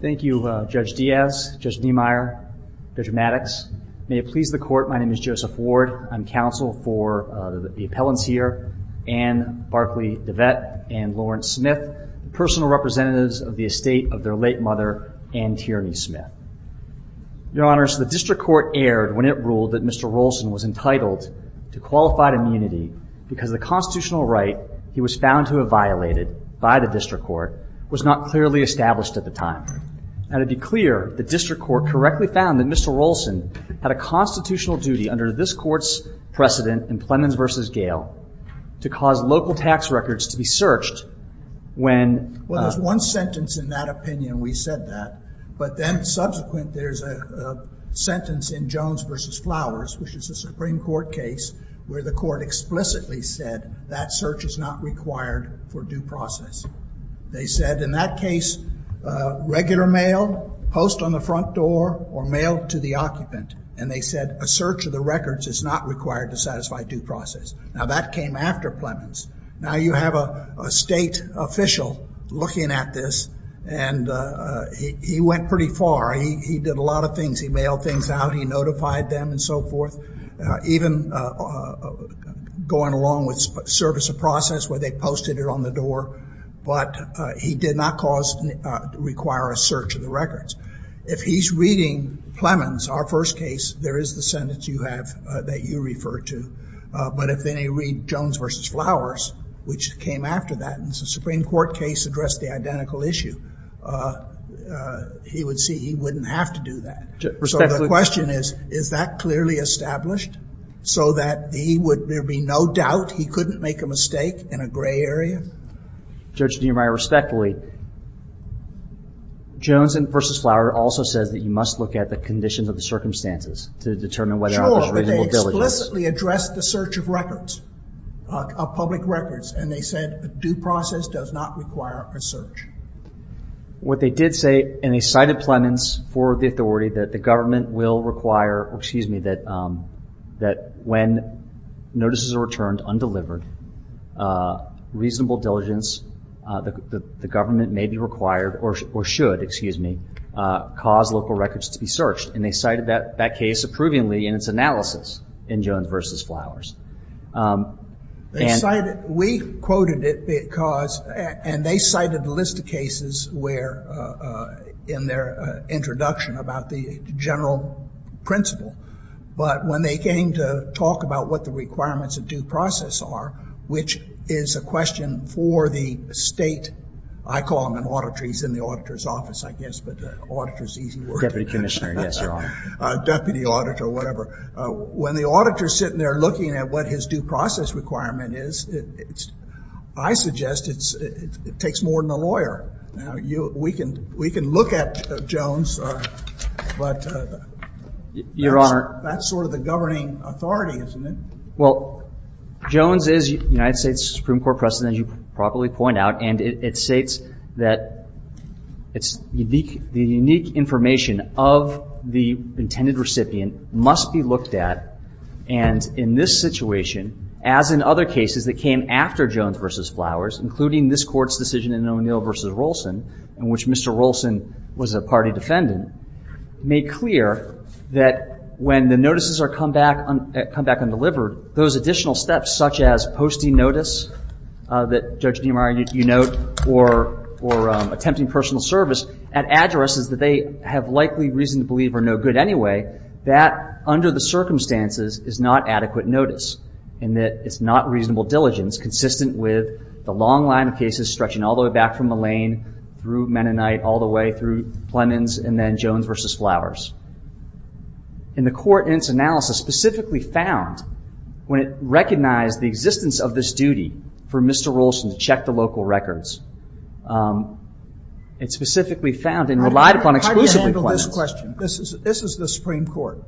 Thank you, Judge Diaz, Judge Niemeyer, Judge Maddox. May it please the Court, my name is Joseph Ward. I'm counsel for the appellants here, Anne Barclay deWet and Lawrence Smith, the personal representatives of the estate of their late mother, Anne Tierney Smith. Your Honors, the District Court erred when it ruled that Mr. Rollson was entitled to qualified immunity because the constitutional right he was found to have violated by the District Court was not clearly established at the time. Now, to be clear, the District Court correctly found that Mr. Rollson had a constitutional duty under this Court's precedent in Plemons v. Gail to cause local tax records to be searched when... Well, there's one sentence in that opinion, we said that, but then subsequent there's a sentence in Jones v. Flowers, which is a Supreme Court case where the Court explicitly said that search is not required for due process. They said in that case, regular mail, post on the front door, or mail to the occupant, and they said a search of the records is not required to satisfy due process. Now, that came after Plemons. Now, you have a state official looking at this, and he went pretty far. He did a lot of things. He mailed things out. He notified them and so forth, even going along with service of process where they posted it on the door, but he did not cause, require a search of the records. If he's reading Plemons, our first case, there is the sentence you have that you refer to, but if then you read Jones v. Flowers, which came after that, and it's a Supreme Court case, addressed the identical issue, he would see he wouldn't have to do that. So the question is, is that clearly established so that he would, there'd be no doubt he couldn't make a mistake in a gray area? Judge Neumeier, respectfully, Jones v. Flowers also says that you must look at the conditions of the circumstances to determine whether or not there's a reasonableness. Sure, but they explicitly addressed the search of records, of public records, and they said due process does not require a search. What they did say, and they cited Plemons for the authority that the government will require, excuse me, that when notices are returned undelivered, reasonable diligence, the government may be required, or should, excuse me, cause local records to be searched, and they cited that case approvingly in its analysis in Jones v. Flowers. They cited, we quoted it because, and they cited a list of cases where, in their introduction about the general principle, but when they came to talk about what the requirements of due process are, which is a question for the state, I call them an auditory, it's in the auditor's office, I guess, but auditor's an easy word. Deputy commissioner, yes, Your Honor. Deputy auditor, whatever. When the auditor's sitting there looking at what his due process requirement is, I suggest it takes more than a lawyer. We can look at Jones, but that's sort of the governing authority, isn't it? Well, Jones is United States Supreme Court precedent, as you probably point out, and it states that the unique information of the intended recipient must be looked at, and in this situation, as in other cases that came after Jones v. Flowers, including this Court's decision in O'Neill v. Rolson, in which Mr. Rolson was a party defendant, made clear that when the notices come back undelivered, those additional steps such as posting notice that Judge DeMario, you note, or attempting personal service at addresses that they have likely reason to believe are no good anyway, that under the circumstances is not adequate notice, and that it's not reasonable diligence consistent with the long line of cases stretching all the way back from Mullane through Mennonite all the way through Plemons and then Jones v. Flowers. And the Court in its analysis specifically found, when it recognized the existence of this duty for Mr. Rolson to check the local records, it specifically found and relied upon exclusively Plemons. How do you handle this question? This is the Supreme Court.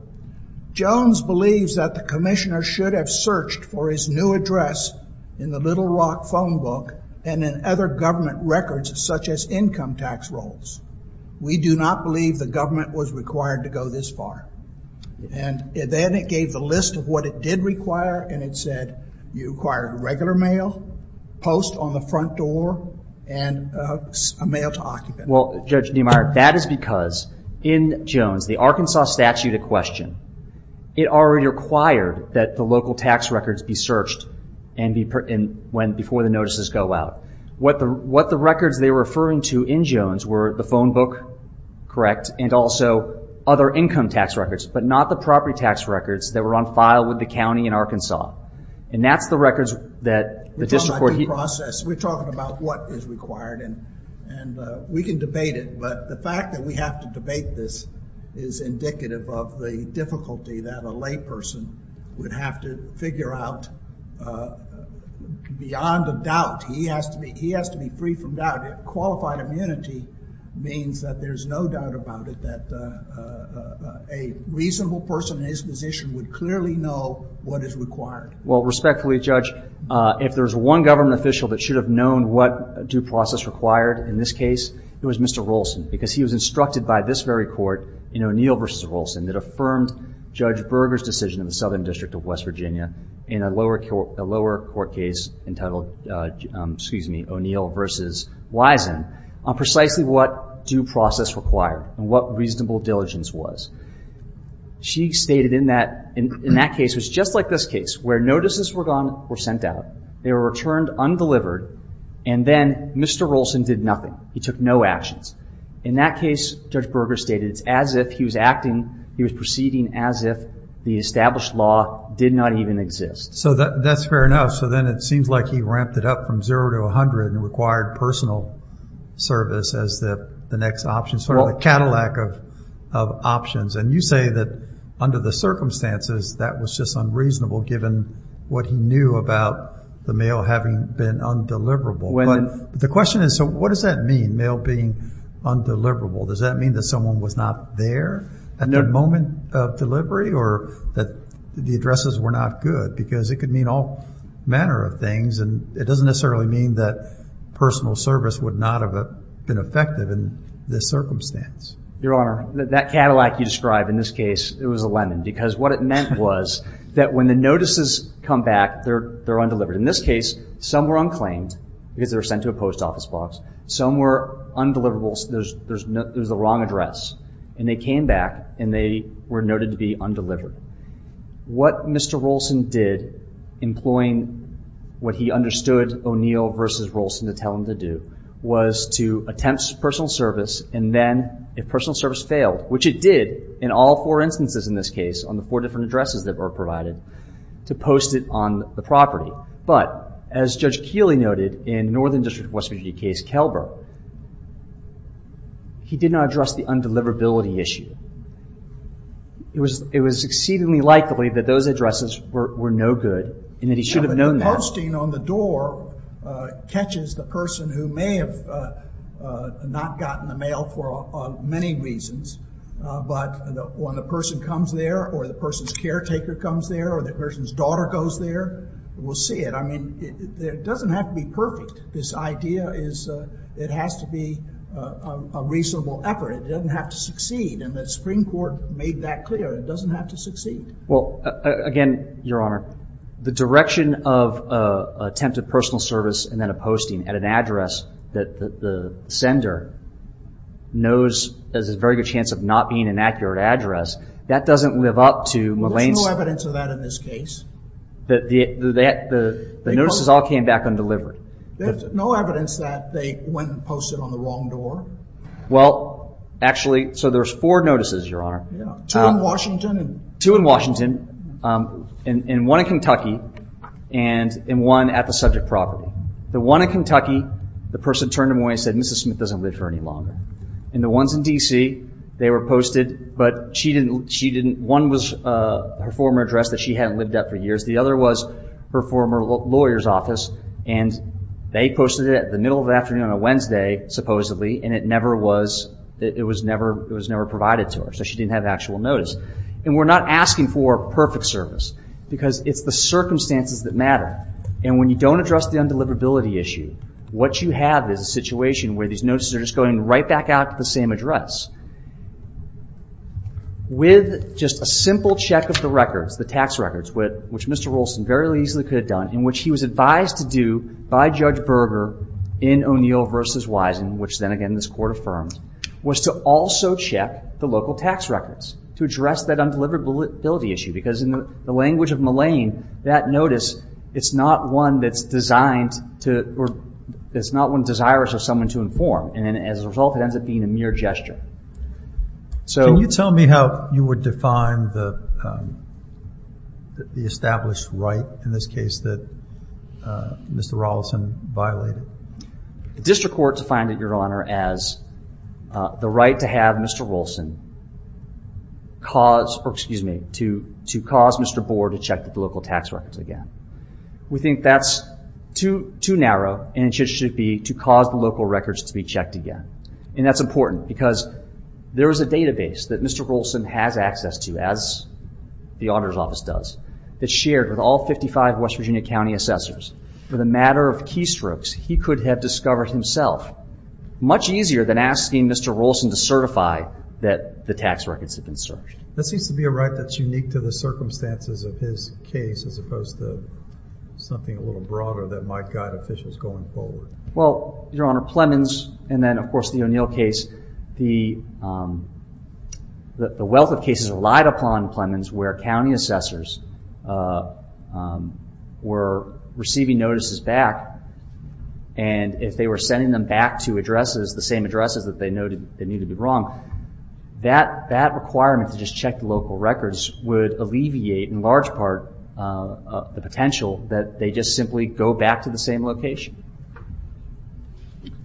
Jones believes that the Commissioner should have searched for his new address in the Little Rock phone book and in other government records such as income tax rolls. We do not believe the government was required to go this far. And then it gave the list of what it did require, and it said you required regular mail, post on the front door, and a mail to occupant. Well, Judge DeMario, that is because in Jones, the Arkansas statute in question, it already required that the local tax records be searched before the notices go out. What the records they were referring to in Jones were the phone book, correct, and also other income tax records, but not the property tax records that were on file with the county in Arkansas. And that's the records that the district court... We're talking about what is required, and we can debate it, but the fact that we have to debate this is indicative of the difficulty that a layperson would have to figure out beyond a doubt. He has to be free from doubt. Qualified immunity means that there's no doubt about it, that a reasonable person in his position would clearly know what is required. Well, respectfully, Judge, if there's one government official that should have known what due process required in this case, it was Mr. Rolson, because he was instructed by this very court in O'Neill v. Rolson that affirmed Judge Berger's decision in the Southern District of West Virginia in a lower court case entitled O'Neill v. Wiesen on precisely what due process required and what reasonable diligence was. She stated in that case, it was just like this case, where notices were sent out, they were returned undelivered, and then Mr. Rolson did nothing. He took no actions. In that case, Judge Berger stated it's as if he was acting, he was proceeding as if the established law did not even exist. So that's fair enough. So then it seems like he ramped it up from zero to 100 and required personal service as the next option, sort of the Cadillac of options. And you say that under the circumstances that was just unreasonable given what he knew about the mail having been undeliverable. The question is, so what does that mean, mail being undeliverable? Does that mean that someone was not there at the moment of delivery or that the addresses were not good? Because it could mean all manner of things, and it doesn't necessarily mean that personal service would not have been effective in this circumstance. Your Honor, that Cadillac you describe in this case, it was a lemon because what it meant was that when the notices come back, they're undelivered. In this case, some were unclaimed because they were sent to a post office box. Some were undeliverable because there was a wrong address. And they came back, and they were noted to be undelivered. What Mr. Rolson did, employing what he understood O'Neill versus Rolson to tell him to do, was to attempt personal service, and then if personal service failed, which it did in all four instances in this case on the four different addresses that were provided, to post it on the property. But as Judge Keeley noted in Northern District of West Virginia case, Kelber, he did not address the undeliverability issue. It was exceedingly likely that those addresses were no good and that he should have known that. Posting on the door catches the person who may have not gotten the mail for many reasons, but when the person comes there or the person's caretaker comes there or the person's daughter goes there, we'll see it. I mean, it doesn't have to be perfect. This idea is it has to be a reasonable effort. It doesn't have to succeed, and the Supreme Court made that clear. It doesn't have to succeed. Well, again, Your Honor, the direction of attempted personal service and then a posting at an address that the sender knows has a very good chance of not being an accurate address, that doesn't live up to Moline's... Well, there's no evidence of that in this case. The notices all came back undelivered. There's no evidence that they went and posted on the wrong door. Well, actually, so there's four notices, Your Honor. Two in Washington. Two in Washington and one in Kentucky and one at the subject property. The one in Kentucky, the person turned them away and said, Mrs. Smith doesn't live here any longer. And the ones in D.C., they were posted, but one was her former address that she hadn't lived at for years. The other was her former lawyer's office, and they posted it in the middle of the afternoon on a Wednesday, supposedly, and it was never provided to her, so she didn't have actual notice. And we're not asking for perfect service because it's the circumstances that matter. And when you don't address the undeliverability issue, what you have is a situation where these notices are just going right back out to the same address. With just a simple check of the records, the tax records, which Mr. Rolston very easily could have done, in which he was advised to do by Judge Berger in O'Neill v. Wisen, which then again this Court affirmed, was to also check the local tax records to address that undeliverability issue because in the language of Mullane, that notice, it's not one that's designed to, it's not one desirous of someone to inform, and as a result it ends up being a mere gesture. Can you tell me how you would define the established right, in this case, that Mr. Rolston violated? The District Court defined it, Your Honor, as the right to have Mr. Rolston cause, or excuse me, to cause Mr. Boer to check the local tax records again. We think that's too narrow, and it should be to cause the local records to be checked again. That's important because there is a database that Mr. Rolston has access to, as the Auditor's Office does, that's shared with all 55 West Virginia County Assessors. For the matter of keystrokes, he could have discovered himself much easier than asking Mr. Rolston to certify that the tax records had been searched. That seems to be a right that's unique to the circumstances of his case, as opposed to something a little broader that might guide officials going forward. Well, Your Honor, Plemons, and then of course the O'Neill case, the wealth of cases relied upon Plemons where County Assessors were receiving notices back, and if they were sending them back to addresses, the same addresses that they noted that needed to be wronged, that requirement to just check the local records would alleviate in large part the potential that they just simply go back to the same location.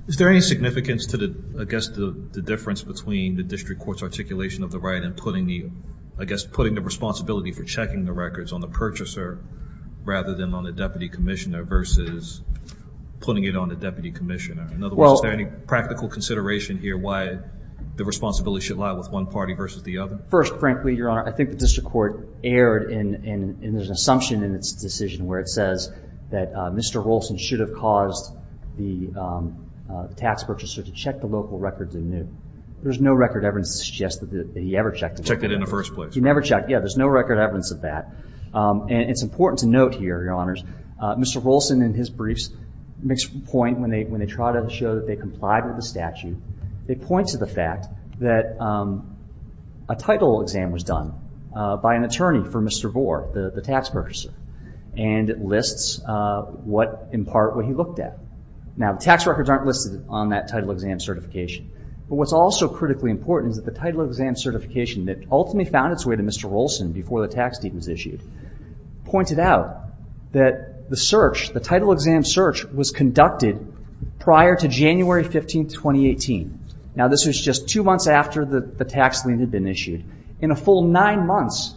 Is there any significance to the difference between the District Court's articulation of the right and putting the responsibility for checking the records on the purchaser rather than on the Deputy Commissioner versus putting it on the Deputy Commissioner? In other words, is there any practical consideration here as to why the responsibility should lie with one party versus the other? First, frankly, Your Honor, I think the District Court erred and there's an assumption in its decision where it says that Mr. Rolston should have caused the tax purchaser to check the local records anew. There's no record evidence to suggest that he ever checked it. Checked it in the first place. He never checked. Yeah, there's no record evidence of that. And it's important to note here, Your Honors, Mr. Rolston in his briefs makes a point when they try to show that they complied with the statute. They point to the fact that a title exam was done by an attorney for Mr. Vore, the tax purchaser, and it lists in part what he looked at. Now, the tax records aren't listed on that title exam certification, but what's also critically important is that the title exam certification that ultimately found its way to Mr. Rolston before the tax deed was issued pointed out that the search, the title exam search, was conducted prior to January 15, 2018. Now, this was just two months after the tax lien had been issued. In a full nine months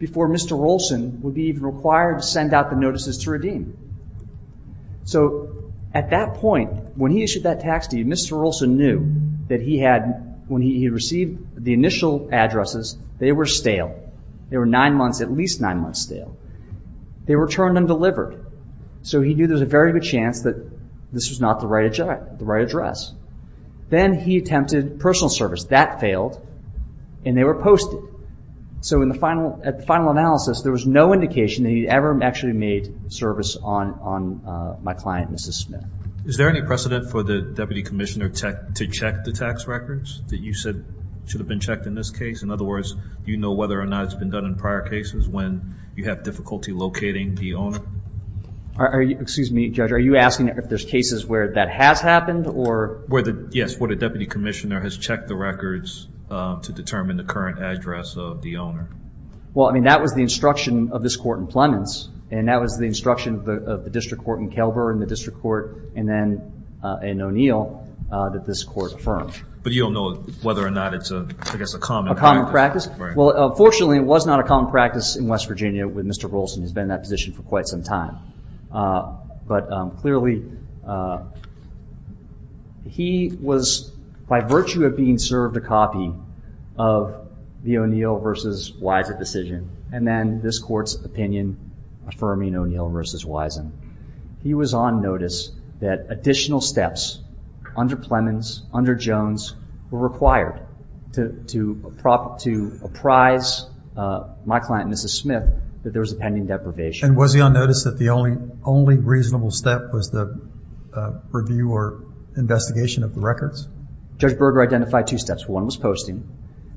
before Mr. Rolston would be even required to send out the notices to redeem. So at that point, when he issued that tax deed, Mr. Rolston knew that when he received the initial addresses, they were stale. They were nine months, at least nine months stale. They were returned undelivered. So he knew there was a very good chance that this was not the right address. Then he attempted personal service. That failed, and they were posted. So at the final analysis, there was no indication that he ever actually made service on my client, Mrs. Smith. Is there any precedent for the deputy commissioner to check the tax records that you said should have been checked in this case? In other words, do you know whether or not it's been done in prior cases when you have difficulty locating the owner? Excuse me, Judge. Are you asking if there's cases where that has happened? Yes, where the deputy commissioner has checked the records to determine the current address of the owner. Well, I mean, that was the instruction of this court in Plemons, and that was the instruction of the district court in Kelber and the district court in O'Neill that this court affirmed. But you don't know whether or not it's, I guess, a common practice. Well, fortunately, it was not a common practice in West Virginia when Mr. Rolson has been in that position for quite some time. But clearly, he was, by virtue of being served a copy of the O'Neill v. Wysen decision and then this court's opinion affirming O'Neill v. Wysen, he was on notice that additional steps under Plemons, under Jones, were required to apprise my client, Mrs. Smith, that there was a pending deprivation. And was he on notice that the only reasonable step was the review or investigation of the records? Judge Berger identified two steps. One was posting,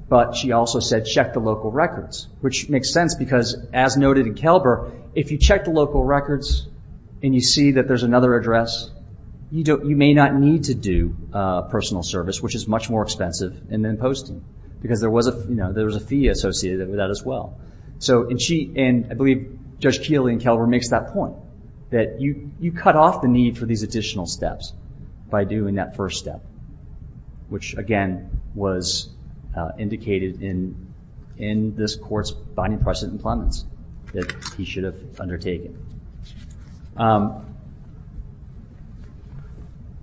but she also said check the local records, which makes sense because, as noted in Kelber, if you check the local records and you see that there's another address, you may not need to do personal service, which is much more expensive, and then posting, because there was a fee associated with that as well. And I believe Judge Keeley in Kelber makes that point, that you cut off the need for these additional steps by doing that first step, which, again, was indicated in this court's binding precedent in Plemons that he should have undertaken.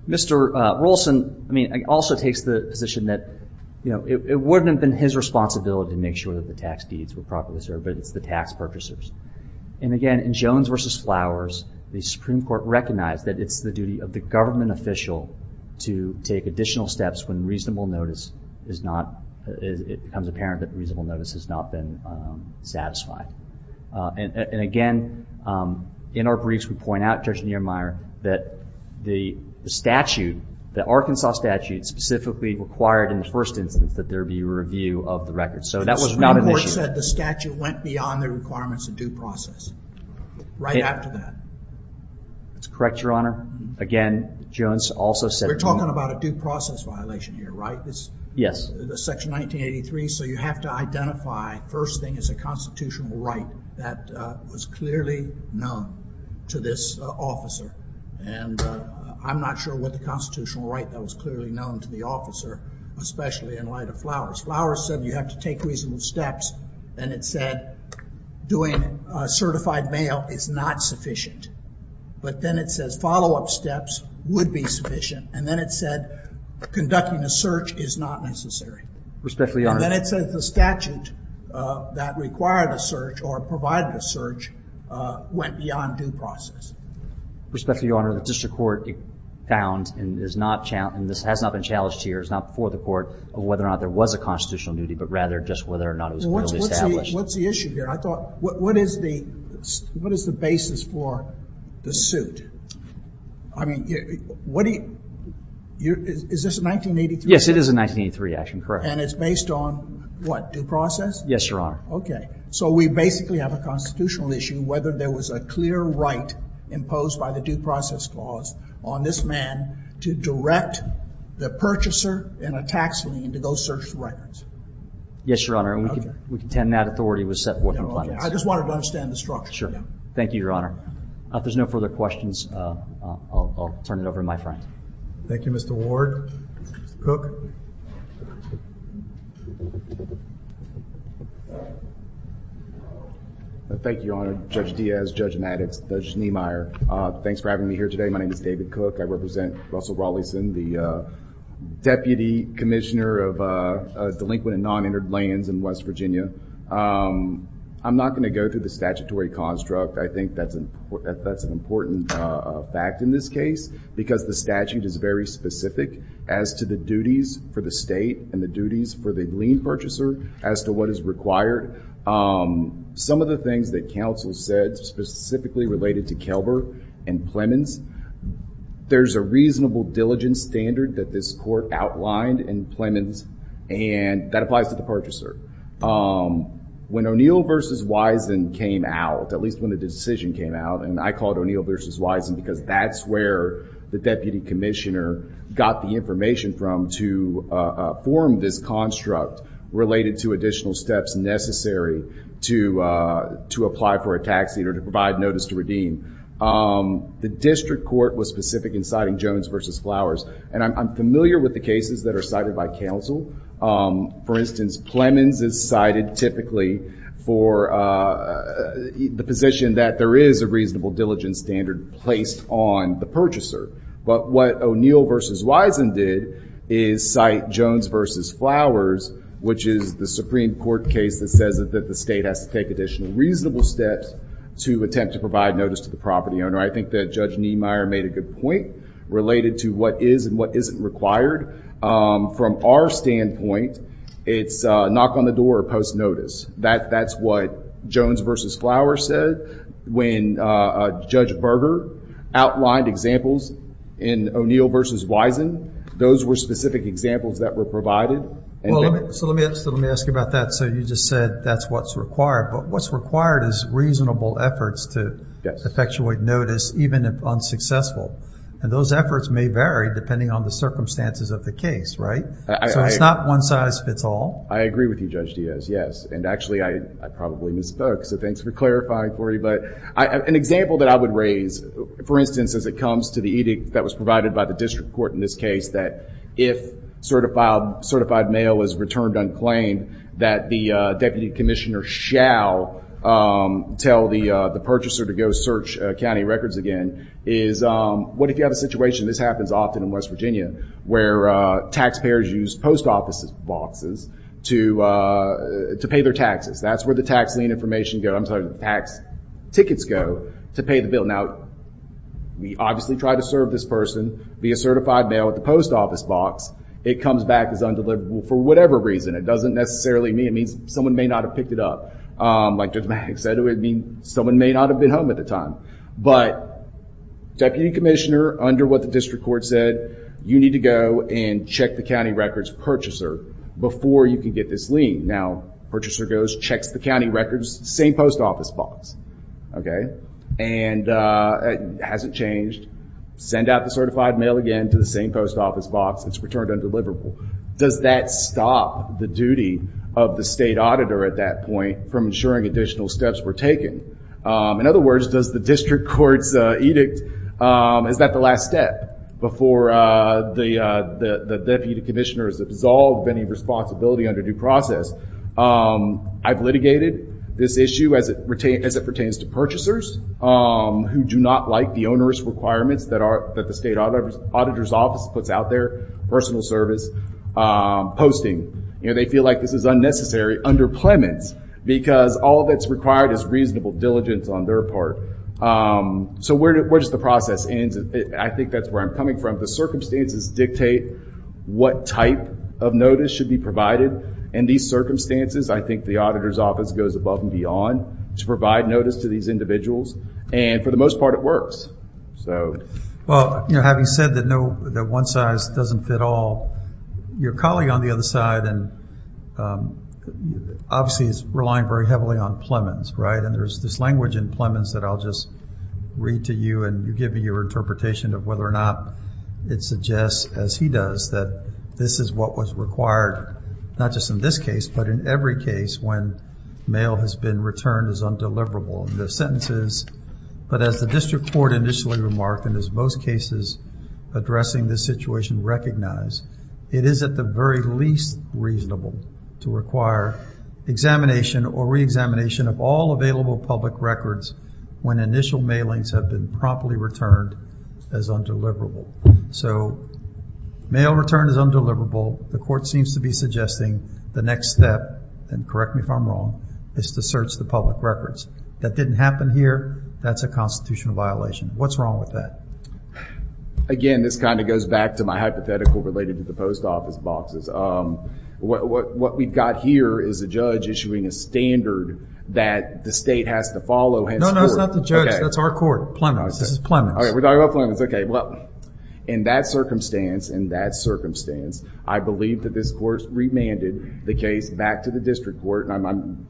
Mr. Rolson, I mean, also takes the position that, you know, it wouldn't have been his responsibility to make sure that the tax deeds were properly served, but it's the tax purchasers. And, again, in Jones v. Flowers, the Supreme Court recognized that it's the duty of the government official to take additional steps when reasonable notice is not, it becomes apparent that reasonable notice has not been satisfied. And, again, in our briefs, we point out, Judge Niemeyer, that the statute, the Arkansas statute, specifically required in the first instance that there be a review of the records. So that was not an issue. The Supreme Court said the statute went beyond the requirements of due process right after that. That's correct, Your Honor. Again, Jones also said... We're talking about a due process violation here, right? Yes. Section 1983, so you have to identify, first thing, as a constitutional right that was clearly known to this officer. And I'm not sure what the constitutional right that was clearly known to the officer, especially in light of Flowers. Flowers said you have to take reasonable steps, and it said doing certified mail is not sufficient. But then it says follow-up steps would be sufficient, and then it said conducting a search is not necessary. Respectfully, Your Honor. And then it says the statute that required a search or provided a search went beyond due process. Respectfully, Your Honor, the district court found, and this has not been challenged here, it's not before the court whether or not there was a constitutional duty, but rather just whether or not it was clearly established. What's the issue here? I thought, what is the basis for the suit? I mean, is this a 1983 action? Yes, it is a 1983 action, correct. And it's based on what, due process? Yes, Your Honor. Okay. So we basically have a constitutional issue whether there was a clear right imposed by the due process clause on this man to direct the purchaser in a tax lien to go search the records. Yes, Your Honor. And we contend that authority was set forth in the plan. Okay. I just wanted to understand the structure. Sure. Thank you, Your Honor. If there's no further questions, I'll turn it over to my friend. Thank you, Mr. Ward. Mr. Cook. Thank you, Your Honor. Judge Diaz, Judge Maddox, Judge Niemeyer. Thanks for having me here today. My name is David Cook. I represent Russell Rawlinson, the Deputy Commissioner of Delinquent and Non-Entered Lands in West Virginia. I'm not going to go through the statutory construct. I think that's an important fact in this case because the statute is very specific as to the duties for the state and the duties for the lien purchaser as to what is required. Some of the things that counsel said specifically related to Kelber and Plemons, there's a reasonable diligence standard that this court outlined in Plemons, and that applies to the purchaser. When O'Neill v. Wisen came out, at least when the decision came out, and I called O'Neill v. Wisen because that's where the Deputy Commissioner got the information from to form this construct related to additional steps necessary to apply for a tax or to provide notice to redeem. The district court was specific in citing Jones v. Flowers, and I'm familiar with the cases that are cited by counsel. For instance, Plemons is cited typically for the position that there is a reasonable diligence standard placed on the purchaser. But what O'Neill v. Wisen did is cite Jones v. Flowers, which is the Supreme Court case that says that the state has to take additional reasonable steps to attempt to provide notice to the property owner. I think that Judge Niemeyer made a good point related to what is and what isn't required. From our standpoint, it's knock on the door or post notice. That's what Jones v. Flowers said. When Judge Berger outlined examples in O'Neill v. Wisen, those were specific examples that were provided. So let me ask you about that. So you just said that's what's required, but what's required is reasonable efforts to effectuate notice, even if unsuccessful. And those efforts may vary depending on the circumstances of the case, right? So it's not one size fits all. I agree with you, Judge Diaz, yes. And actually, I probably misspoke, so thanks for clarifying for me. But an example that I would raise, for instance, as it comes to the edict that was provided by the district court in this case, that if certified mail is returned unclaimed, that the deputy commissioner shall tell the purchaser to go search county records again, is what if you have a situation, this happens often in West Virginia, where taxpayers use post office boxes to pay their taxes. That's where the tax lien information goes, I'm sorry, the tax tickets go to pay the bill. Now, we obviously try to serve this person via certified mail at the post office box. It comes back as undeliverable for whatever reason. It doesn't necessarily mean someone may not have picked it up. Like Judge Maggs said, it would mean someone may not have been home at the time. But deputy commissioner, under what the district court said, you need to go and check the county records purchaser before you can get this lien. Now, purchaser goes, checks the county records, same post office box, okay? And it hasn't changed. Send out the certified mail again to the same post office box. It's returned undeliverable. Does that stop the duty of the state auditor at that point from ensuring additional steps were taken? In other words, does the district court's edict, is that the last step before the deputy commissioner is absolved of any responsibility under due process? I've litigated this issue as it pertains to purchasers who do not like the onerous requirements that the state auditor's office puts out there, personal service, posting. They feel like this is unnecessary under clements because all that's required is reasonable diligence on their part. So where does the process end? I think that's where I'm coming from. The circumstances dictate what type of notice should be provided. In these circumstances, I think the auditor's office goes above and beyond to provide notice to these individuals. And for the most part, it works. Well, having said that one size doesn't fit all, your colleague on the other side obviously is relying very heavily on clements, right? And there's this language in clements that I'll just read to you and you give me your interpretation of whether or not it suggests, as he does, that this is what was required, not just in this case, but in every case when mail has been returned as undeliverable. The sentence is, but as the district court initially remarked, and as most cases addressing this situation recognize, it is at the very least reasonable to require examination or reexamination of all available public records when initial mailings have been promptly returned as undeliverable. So mail returned as undeliverable. The court seems to be suggesting the next step, and correct me if I'm wrong, is to search the public records. That didn't happen here. That's a constitutional violation. What's wrong with that? Again, this kind of goes back to my hypothetical related to the post office boxes. What we've got here is a judge issuing a standard that the state has to follow. No, no, it's not the judge. That's our court. Plemons. This is Plemons. Okay, we're talking about Plemons. Okay, well, in that circumstance, in that circumstance, I believe that this court remanded the case back to the district court, and I'm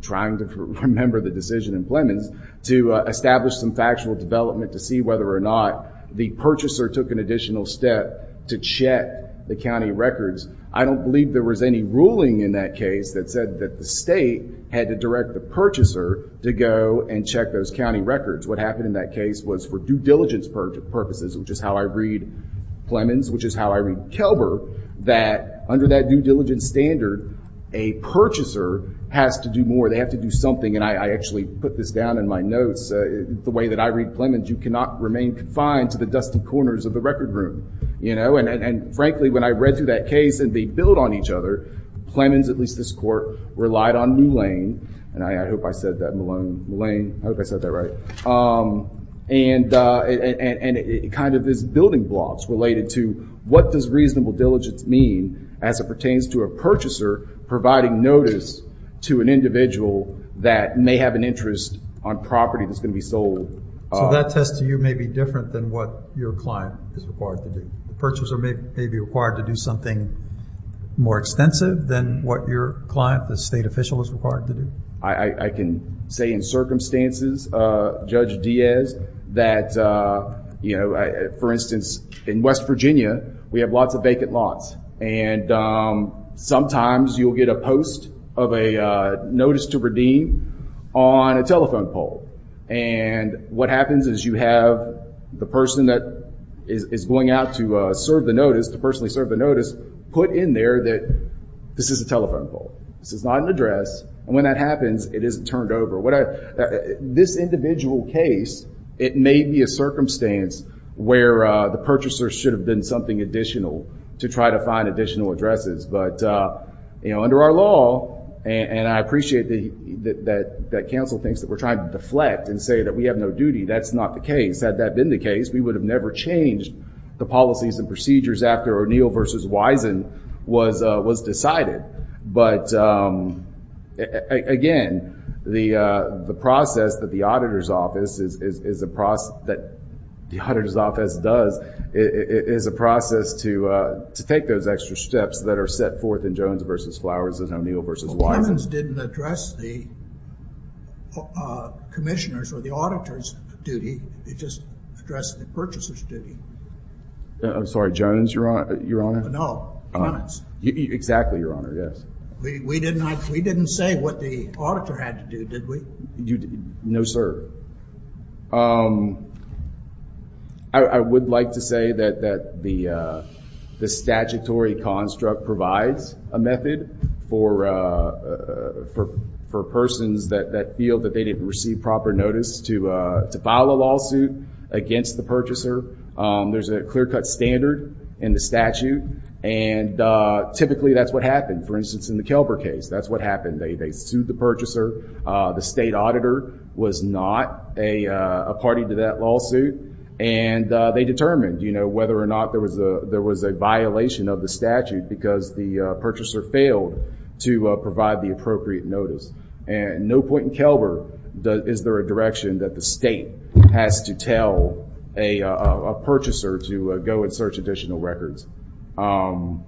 trying to remember the decision in Plemons, to establish some factual development to see whether or not the purchaser took an additional step to check the county records. I don't believe there was any ruling in that case that said that the state had to direct the purchaser to go and check those county records. What happened in that case was for due diligence purposes, which is how I read Plemons, which is how I read Kelber, that under that due diligence standard, a purchaser has to do more. I actually put this down in my notes. The way that I read Plemons, you cannot remain confined to the dusty corners of the record room. Frankly, when I read through that case and they build on each other, Plemons, at least this court, relied on New Lane, and I hope I said that right, and it kind of is building blocks related to what does reasonable diligence mean as it pertains to a purchaser providing notice to an individual that may have an interest on property that's going to be sold. So that test to you may be different than what your client is required to do. The purchaser may be required to do something more extensive than what your client, the state official, is required to do. I can say in circumstances, Judge Diaz, that, for instance, in West Virginia, we have lots of vacant lots, and sometimes you'll get a post of a notice to redeem on a telephone pole, and what happens is you have the person that is going out to serve the notice, to personally serve the notice, put in there that this is a telephone pole. This is not an address, and when that happens, it isn't turned over. This individual case, it may be a circumstance where the purchaser should have been something additional to try to find additional addresses, but under our law, and I appreciate that counsel thinks that we're trying to deflect and say that we have no duty. That's not the case. Had that been the case, we would have never changed the policies and procedures after O'Neill v. Wisen was decided. But, again, the process that the auditor's office does is a process to take those extra steps that are set forth in Jones v. Flowers and O'Neill v. Wisen. Clemens didn't address the commissioner's or the auditor's duty. He just addressed the purchaser's duty. I'm sorry. Jones, Your Honor? No. Jones. Exactly, Your Honor. Yes. We didn't say what the auditor had to do, did we? No, sir. I would like to say that the statutory construct provides a method for persons that feel that they didn't receive proper notice to file a lawsuit against the purchaser. There's a clear-cut standard in the statute, and typically that's what happened. For instance, in the Kelber case, that's what happened. They sued the purchaser. The state auditor was not a party to that lawsuit, and they determined whether or not there was a violation of the statute because the purchaser failed to provide the appropriate notice. At no point in Kelber is there a direction that the state has to tell a purchaser to go and search additional records. I've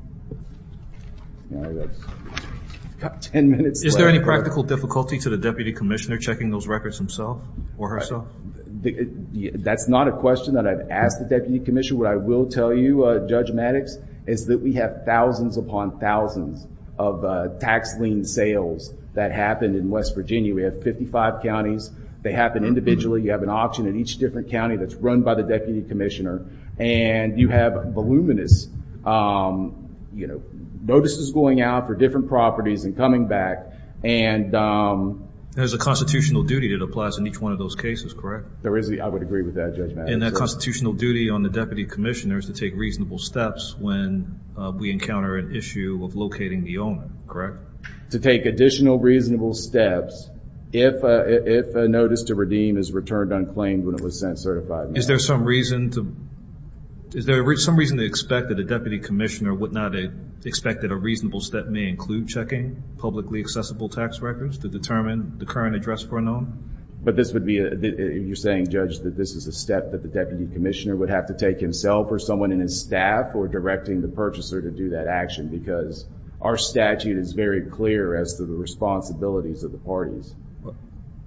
got 10 minutes left. Is there any practical difficulty to the Deputy Commissioner checking those records himself or herself? That's not a question that I've asked the Deputy Commissioner. What I will tell you, Judge Maddox, is that we have thousands upon thousands of tax lien sales that happened in West Virginia. We have 55 counties. They happen individually. You have an auction in each different county that's run by the Deputy Commissioner, and you have voluminous notices going out for different properties and coming back. There's a constitutional duty that applies in each one of those cases, correct? There is. I would agree with that, Judge Maddox. And that constitutional duty on the Deputy Commissioner is to take reasonable steps when we encounter an issue of locating the owner, correct? To take additional reasonable steps if a notice to redeem is returned unclaimed when it was sent certified. Is there some reason to expect that a Deputy Commissioner would not expect that a reasonable step may include checking publicly accessible tax records to determine the current address for a known? You're saying, Judge, that this is a step that the Deputy Commissioner would have to take himself or someone in his staff or directing the purchaser to do that action? Because our statute is very clear as to the responsibilities of the parties.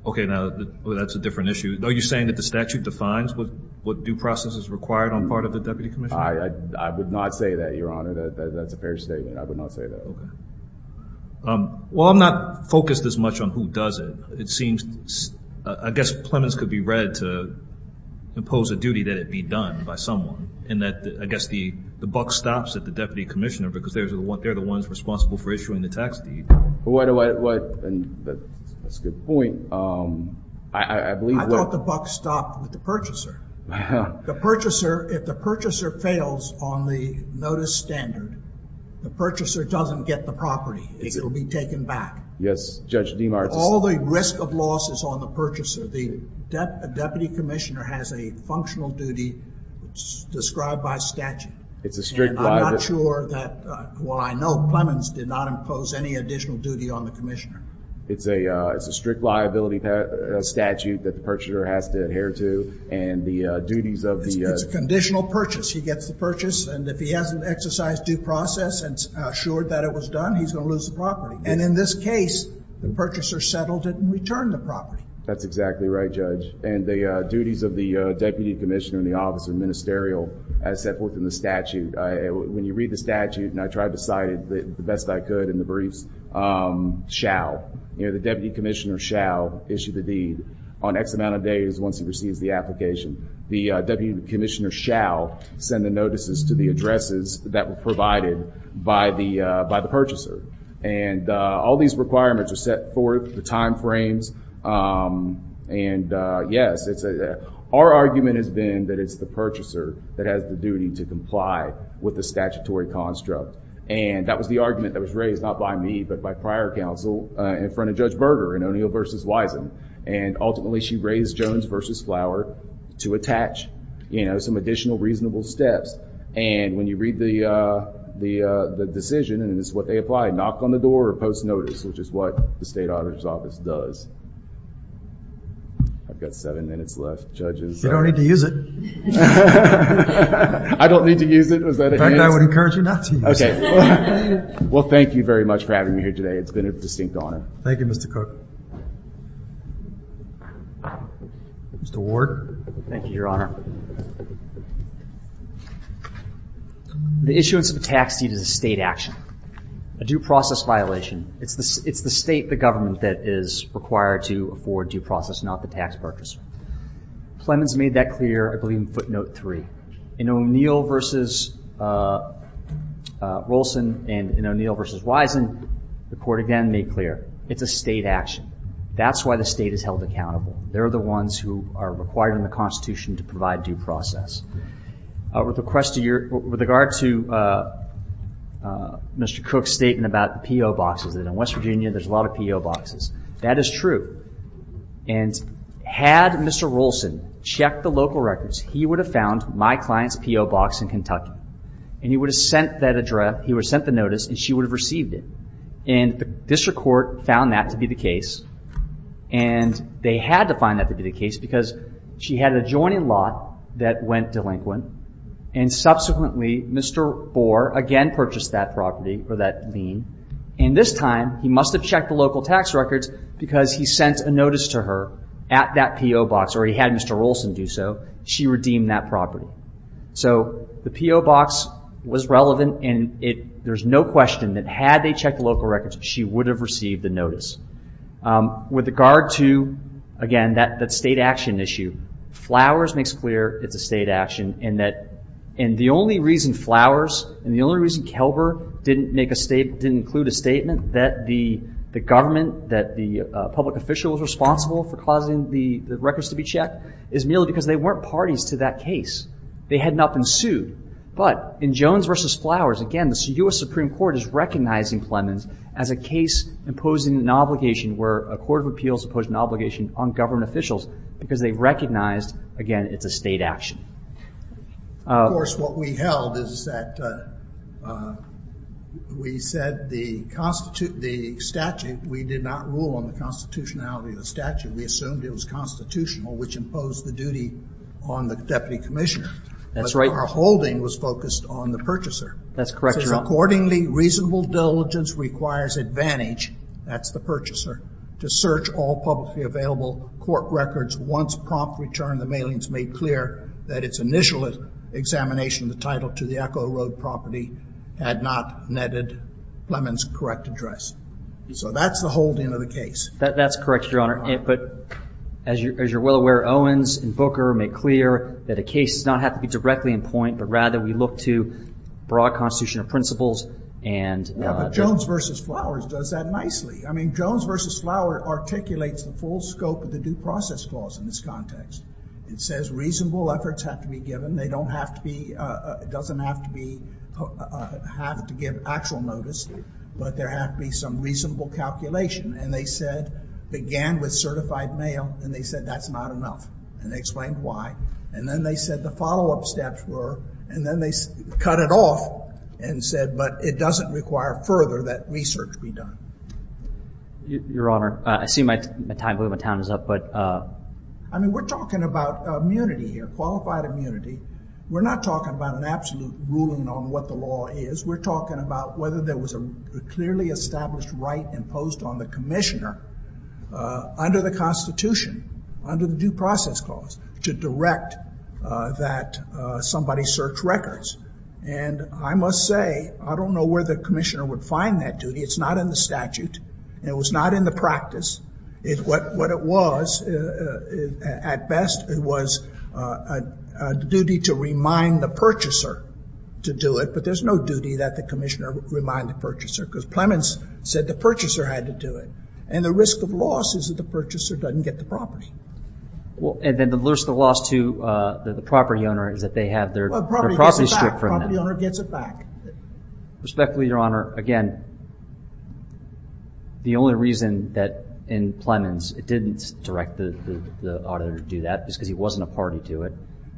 Okay, now that's a different issue. Are you saying that the statute defines what due process is required on the part of the Deputy Commissioner? I would not say that, Your Honor. That's a fair statement. I would not say that. Okay. Well, I'm not focused as much on who does it. I guess Plemons could be read to impose a duty that it be done by someone, and I guess the buck stops at the Deputy Commissioner because they're the ones responsible for issuing the tax deed. That's a good point. I thought the buck stopped with the purchaser. The purchaser, if the purchaser fails on the notice standard, the purchaser doesn't get the property. It will be taken back. Yes, Judge DeMartis. All the risk of loss is on the purchaser. The Deputy Commissioner has a functional duty described by statute. It's a strict liability. I'm not sure that, well, I know Plemons did not impose any additional duty on the Commissioner. It's a strict liability statute that the purchaser has to adhere to, and the duties of the... It's a conditional purchase. He gets the purchase, and if he hasn't exercised due process and assured that it was done, he's going to lose the property. And in this case, the purchaser settled it and returned the property. That's exactly right, Judge. And the duties of the Deputy Commissioner in the Office of the Ministerial as set forth in the statute, when you read the statute, and I tried to cite it the best I could in the briefs, shall. The Deputy Commissioner shall issue the deed on X amount of days once he receives the application. The Deputy Commissioner shall send the notices to the addresses that were provided by the purchaser. And all these requirements are set forth, the time frames, and yes. Our argument has been that it's the purchaser that has the duty to comply with the statutory construct. And that was the argument that was raised, not by me, but by prior counsel in front of Judge Berger in O'Neill v. Wisom. And ultimately, she raised Jones v. Flower to attach some additional reasonable steps. And when you read the decision, and this is what they applied, knock on the door or post notice, which is what the State Auditor's Office does. I've got seven minutes left. You don't need to use it. I don't need to use it? In fact, I would encourage you not to use it. Well, thank you very much for having me here today. It's been a distinct honor. Thank you, Mr. Cook. Mr. Ward. Thank you, Your Honor. The issuance of a tax deed is a State action, a due process violation. It's the State, the government, that is required to afford due process, not the tax purchaser. Plemons made that clear, I believe, in footnote three. In O'Neill v. Wilson and in O'Neill v. Wisom, the Court again made clear, it's a State action. That's why the State is held accountable. They're the ones who are required in the Constitution to provide due process. With regard to Mr. Cook's statement about PO boxes, in West Virginia there's a lot of PO boxes. That is true. Had Mr. Wilson checked the local records, he would have found my client's PO box in Kentucky. He would have sent that address, he would have sent the notice, and she would have received it. The District Court found that to be the case. They had to find that to be the case because she had an adjoining lot that went delinquent. Subsequently, Mr. Bohr again purchased that property or that lien. This time, he must have checked the local tax records because he sent a notice to her at that PO box, or he had Mr. Wilson do so. She redeemed that property. The PO box was relevant. There's no question that had they checked the local records, she would have received the notice. With regard to, again, that State action issue, Flowers makes clear it's a State action. The only reason Flowers and the only reason Kelber didn't include a statement, that the government, that the public official was responsible for causing the records to be checked, is merely because they weren't parties to that case. They had not been sued. But in Jones v. Flowers, again, the U.S. Supreme Court is recognizing Plemons as a case imposing an obligation where a court of appeals imposed an obligation on government officials because they recognized, again, it's a State action. Of course, what we held is that we said the statute, we did not rule on the constitutionality of the statute. We assumed it was constitutional, which imposed the duty on the deputy commissioner. That's right. But our holding was focused on the purchaser. That's correct, Your Honor. Accordingly, reasonable diligence requires advantage, that's the purchaser, to search all publicly available court records. Once prompt return, the mailings made clear that its initial examination of the title to the Echo Road property had not netted Plemons' correct address. So that's the holding of the case. That's correct, Your Honor. But as you're well aware, Owens and Booker made clear that a case does not have to be directly in point, but rather we look to broad constitutional principles and Yeah, but Jones v. Flowers does that nicely. I mean, Jones v. Flowers articulates the full scope of the due process clause in this context. It says reasonable efforts have to be given. They don't have to be, doesn't have to be, have to give actual notice, but there have to be some reasonable calculation. And they said, began with certified mail, and they said that's not enough. And they explained why. And then they said the follow-up steps were, and then they cut it off and said, but it doesn't require further that research be done. Your Honor, I see my time, I believe my time is up, but I mean, we're talking about immunity here, qualified immunity. We're not talking about an absolute ruling on what the law is. We're talking about whether there was a clearly established right imposed on the commissioner under the Constitution, under the due process clause, to direct that somebody search records. And I must say, I don't know where the commissioner would find that duty. It's not in the statute, and it was not in the practice. What it was, at best, it was a duty to remind the purchaser to do it, but there's no duty that the commissioner remind the purchaser, because Plemons said the purchaser had to do it. And the risk of loss is that the purchaser doesn't get the property. And then the risk of loss to the property owner is that they have their property stripped from them. The property owner gets it back. Respectfully, Your Honor, again, the only reason that in Plemons it didn't direct the auditor to do that is because he wasn't a party to it.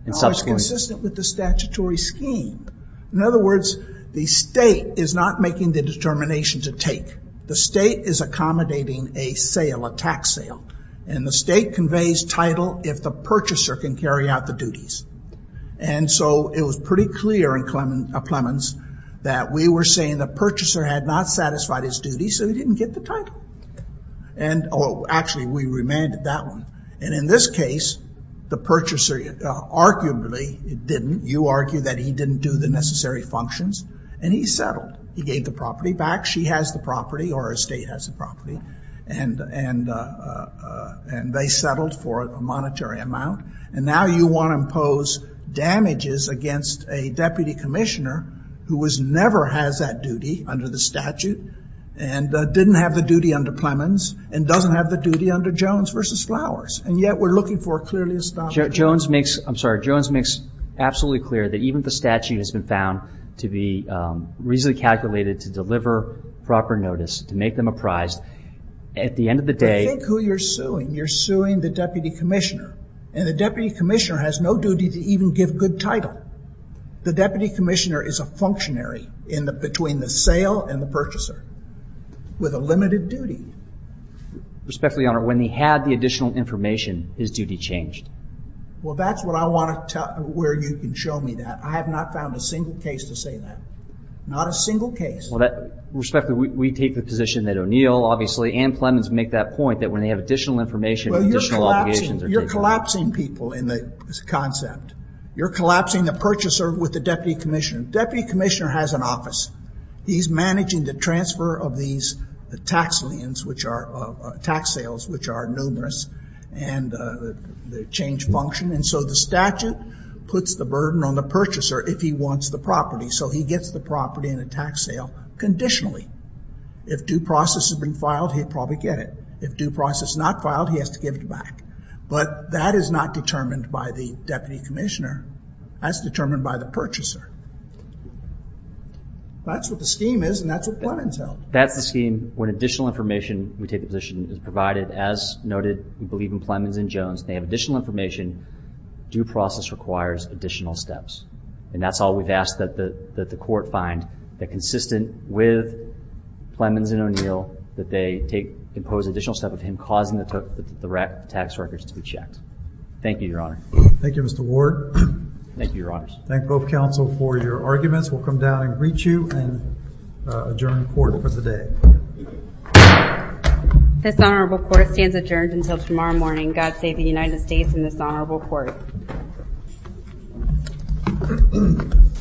It's consistent with the statutory scheme. In other words, the state is not making the determination to take. The state is accommodating a sale, a tax sale, and the state conveys title if the purchaser can carry out the duties. And so it was pretty clear in Plemons that we were saying the purchaser had not satisfied his duties, so he didn't get the title. Actually, we remanded that one. And in this case, the purchaser arguably didn't. You argue that he didn't do the necessary functions, and he settled. He gave the property back. She has the property, or her state has the property, and they settled for a monetary amount. And now you want to impose damages against a deputy commissioner who never has that duty under the statute and didn't have the duty under Plemons and doesn't have the duty under Jones v. Flowers. And yet, we're looking for a clearly established... Jones makes absolutely clear that even if the statute has been found to be reasonably calculated to deliver proper notice, to make them apprised, at the end of the day... But think who you're suing. You're suing the deputy commissioner, and the deputy commissioner has no duty to even give good title. The deputy commissioner is a functionary between the sale and the purchaser with a limited duty. Respectfully, Your Honor, when he had the additional information, his duty changed. Well, that's what I want to tell you where you can show me that. I have not found a single case to say that. Not a single case. Respectfully, we take the position that O'Neill, obviously, and Plemons make that point that when they have additional information... Well, you're collapsing people in the concept. You're collapsing the purchaser with the deputy commissioner. Deputy commissioner has an office. He's managing the transfer of these tax liens, which are tax sales, which are numerous, and the change function. And so the statute puts the burden on the purchaser if he wants the property. So he gets the property in a tax sale conditionally. If due process has been filed, he'd probably get it. If due process is not filed, he has to give it back. But that is not determined by the deputy commissioner. That's determined by the purchaser. That's what the scheme is, and that's what Plemons held. That's the scheme. When additional information, we take the position, is provided. As noted, we believe in Plemons and Jones. They have additional information. Due process requires additional steps. And that's all we've asked that the court find, that consistent with Plemons and O'Neill, that they impose additional step of him causing the tax records to be checked. Thank you, Your Honor. Thank you, Mr. Ward. Thank you, Your Honors. Thank both counsel for your arguments. We'll come down and greet you and adjourn the court for the day. This honorable court stands adjourned until tomorrow morning. God save the United States and this honorable court.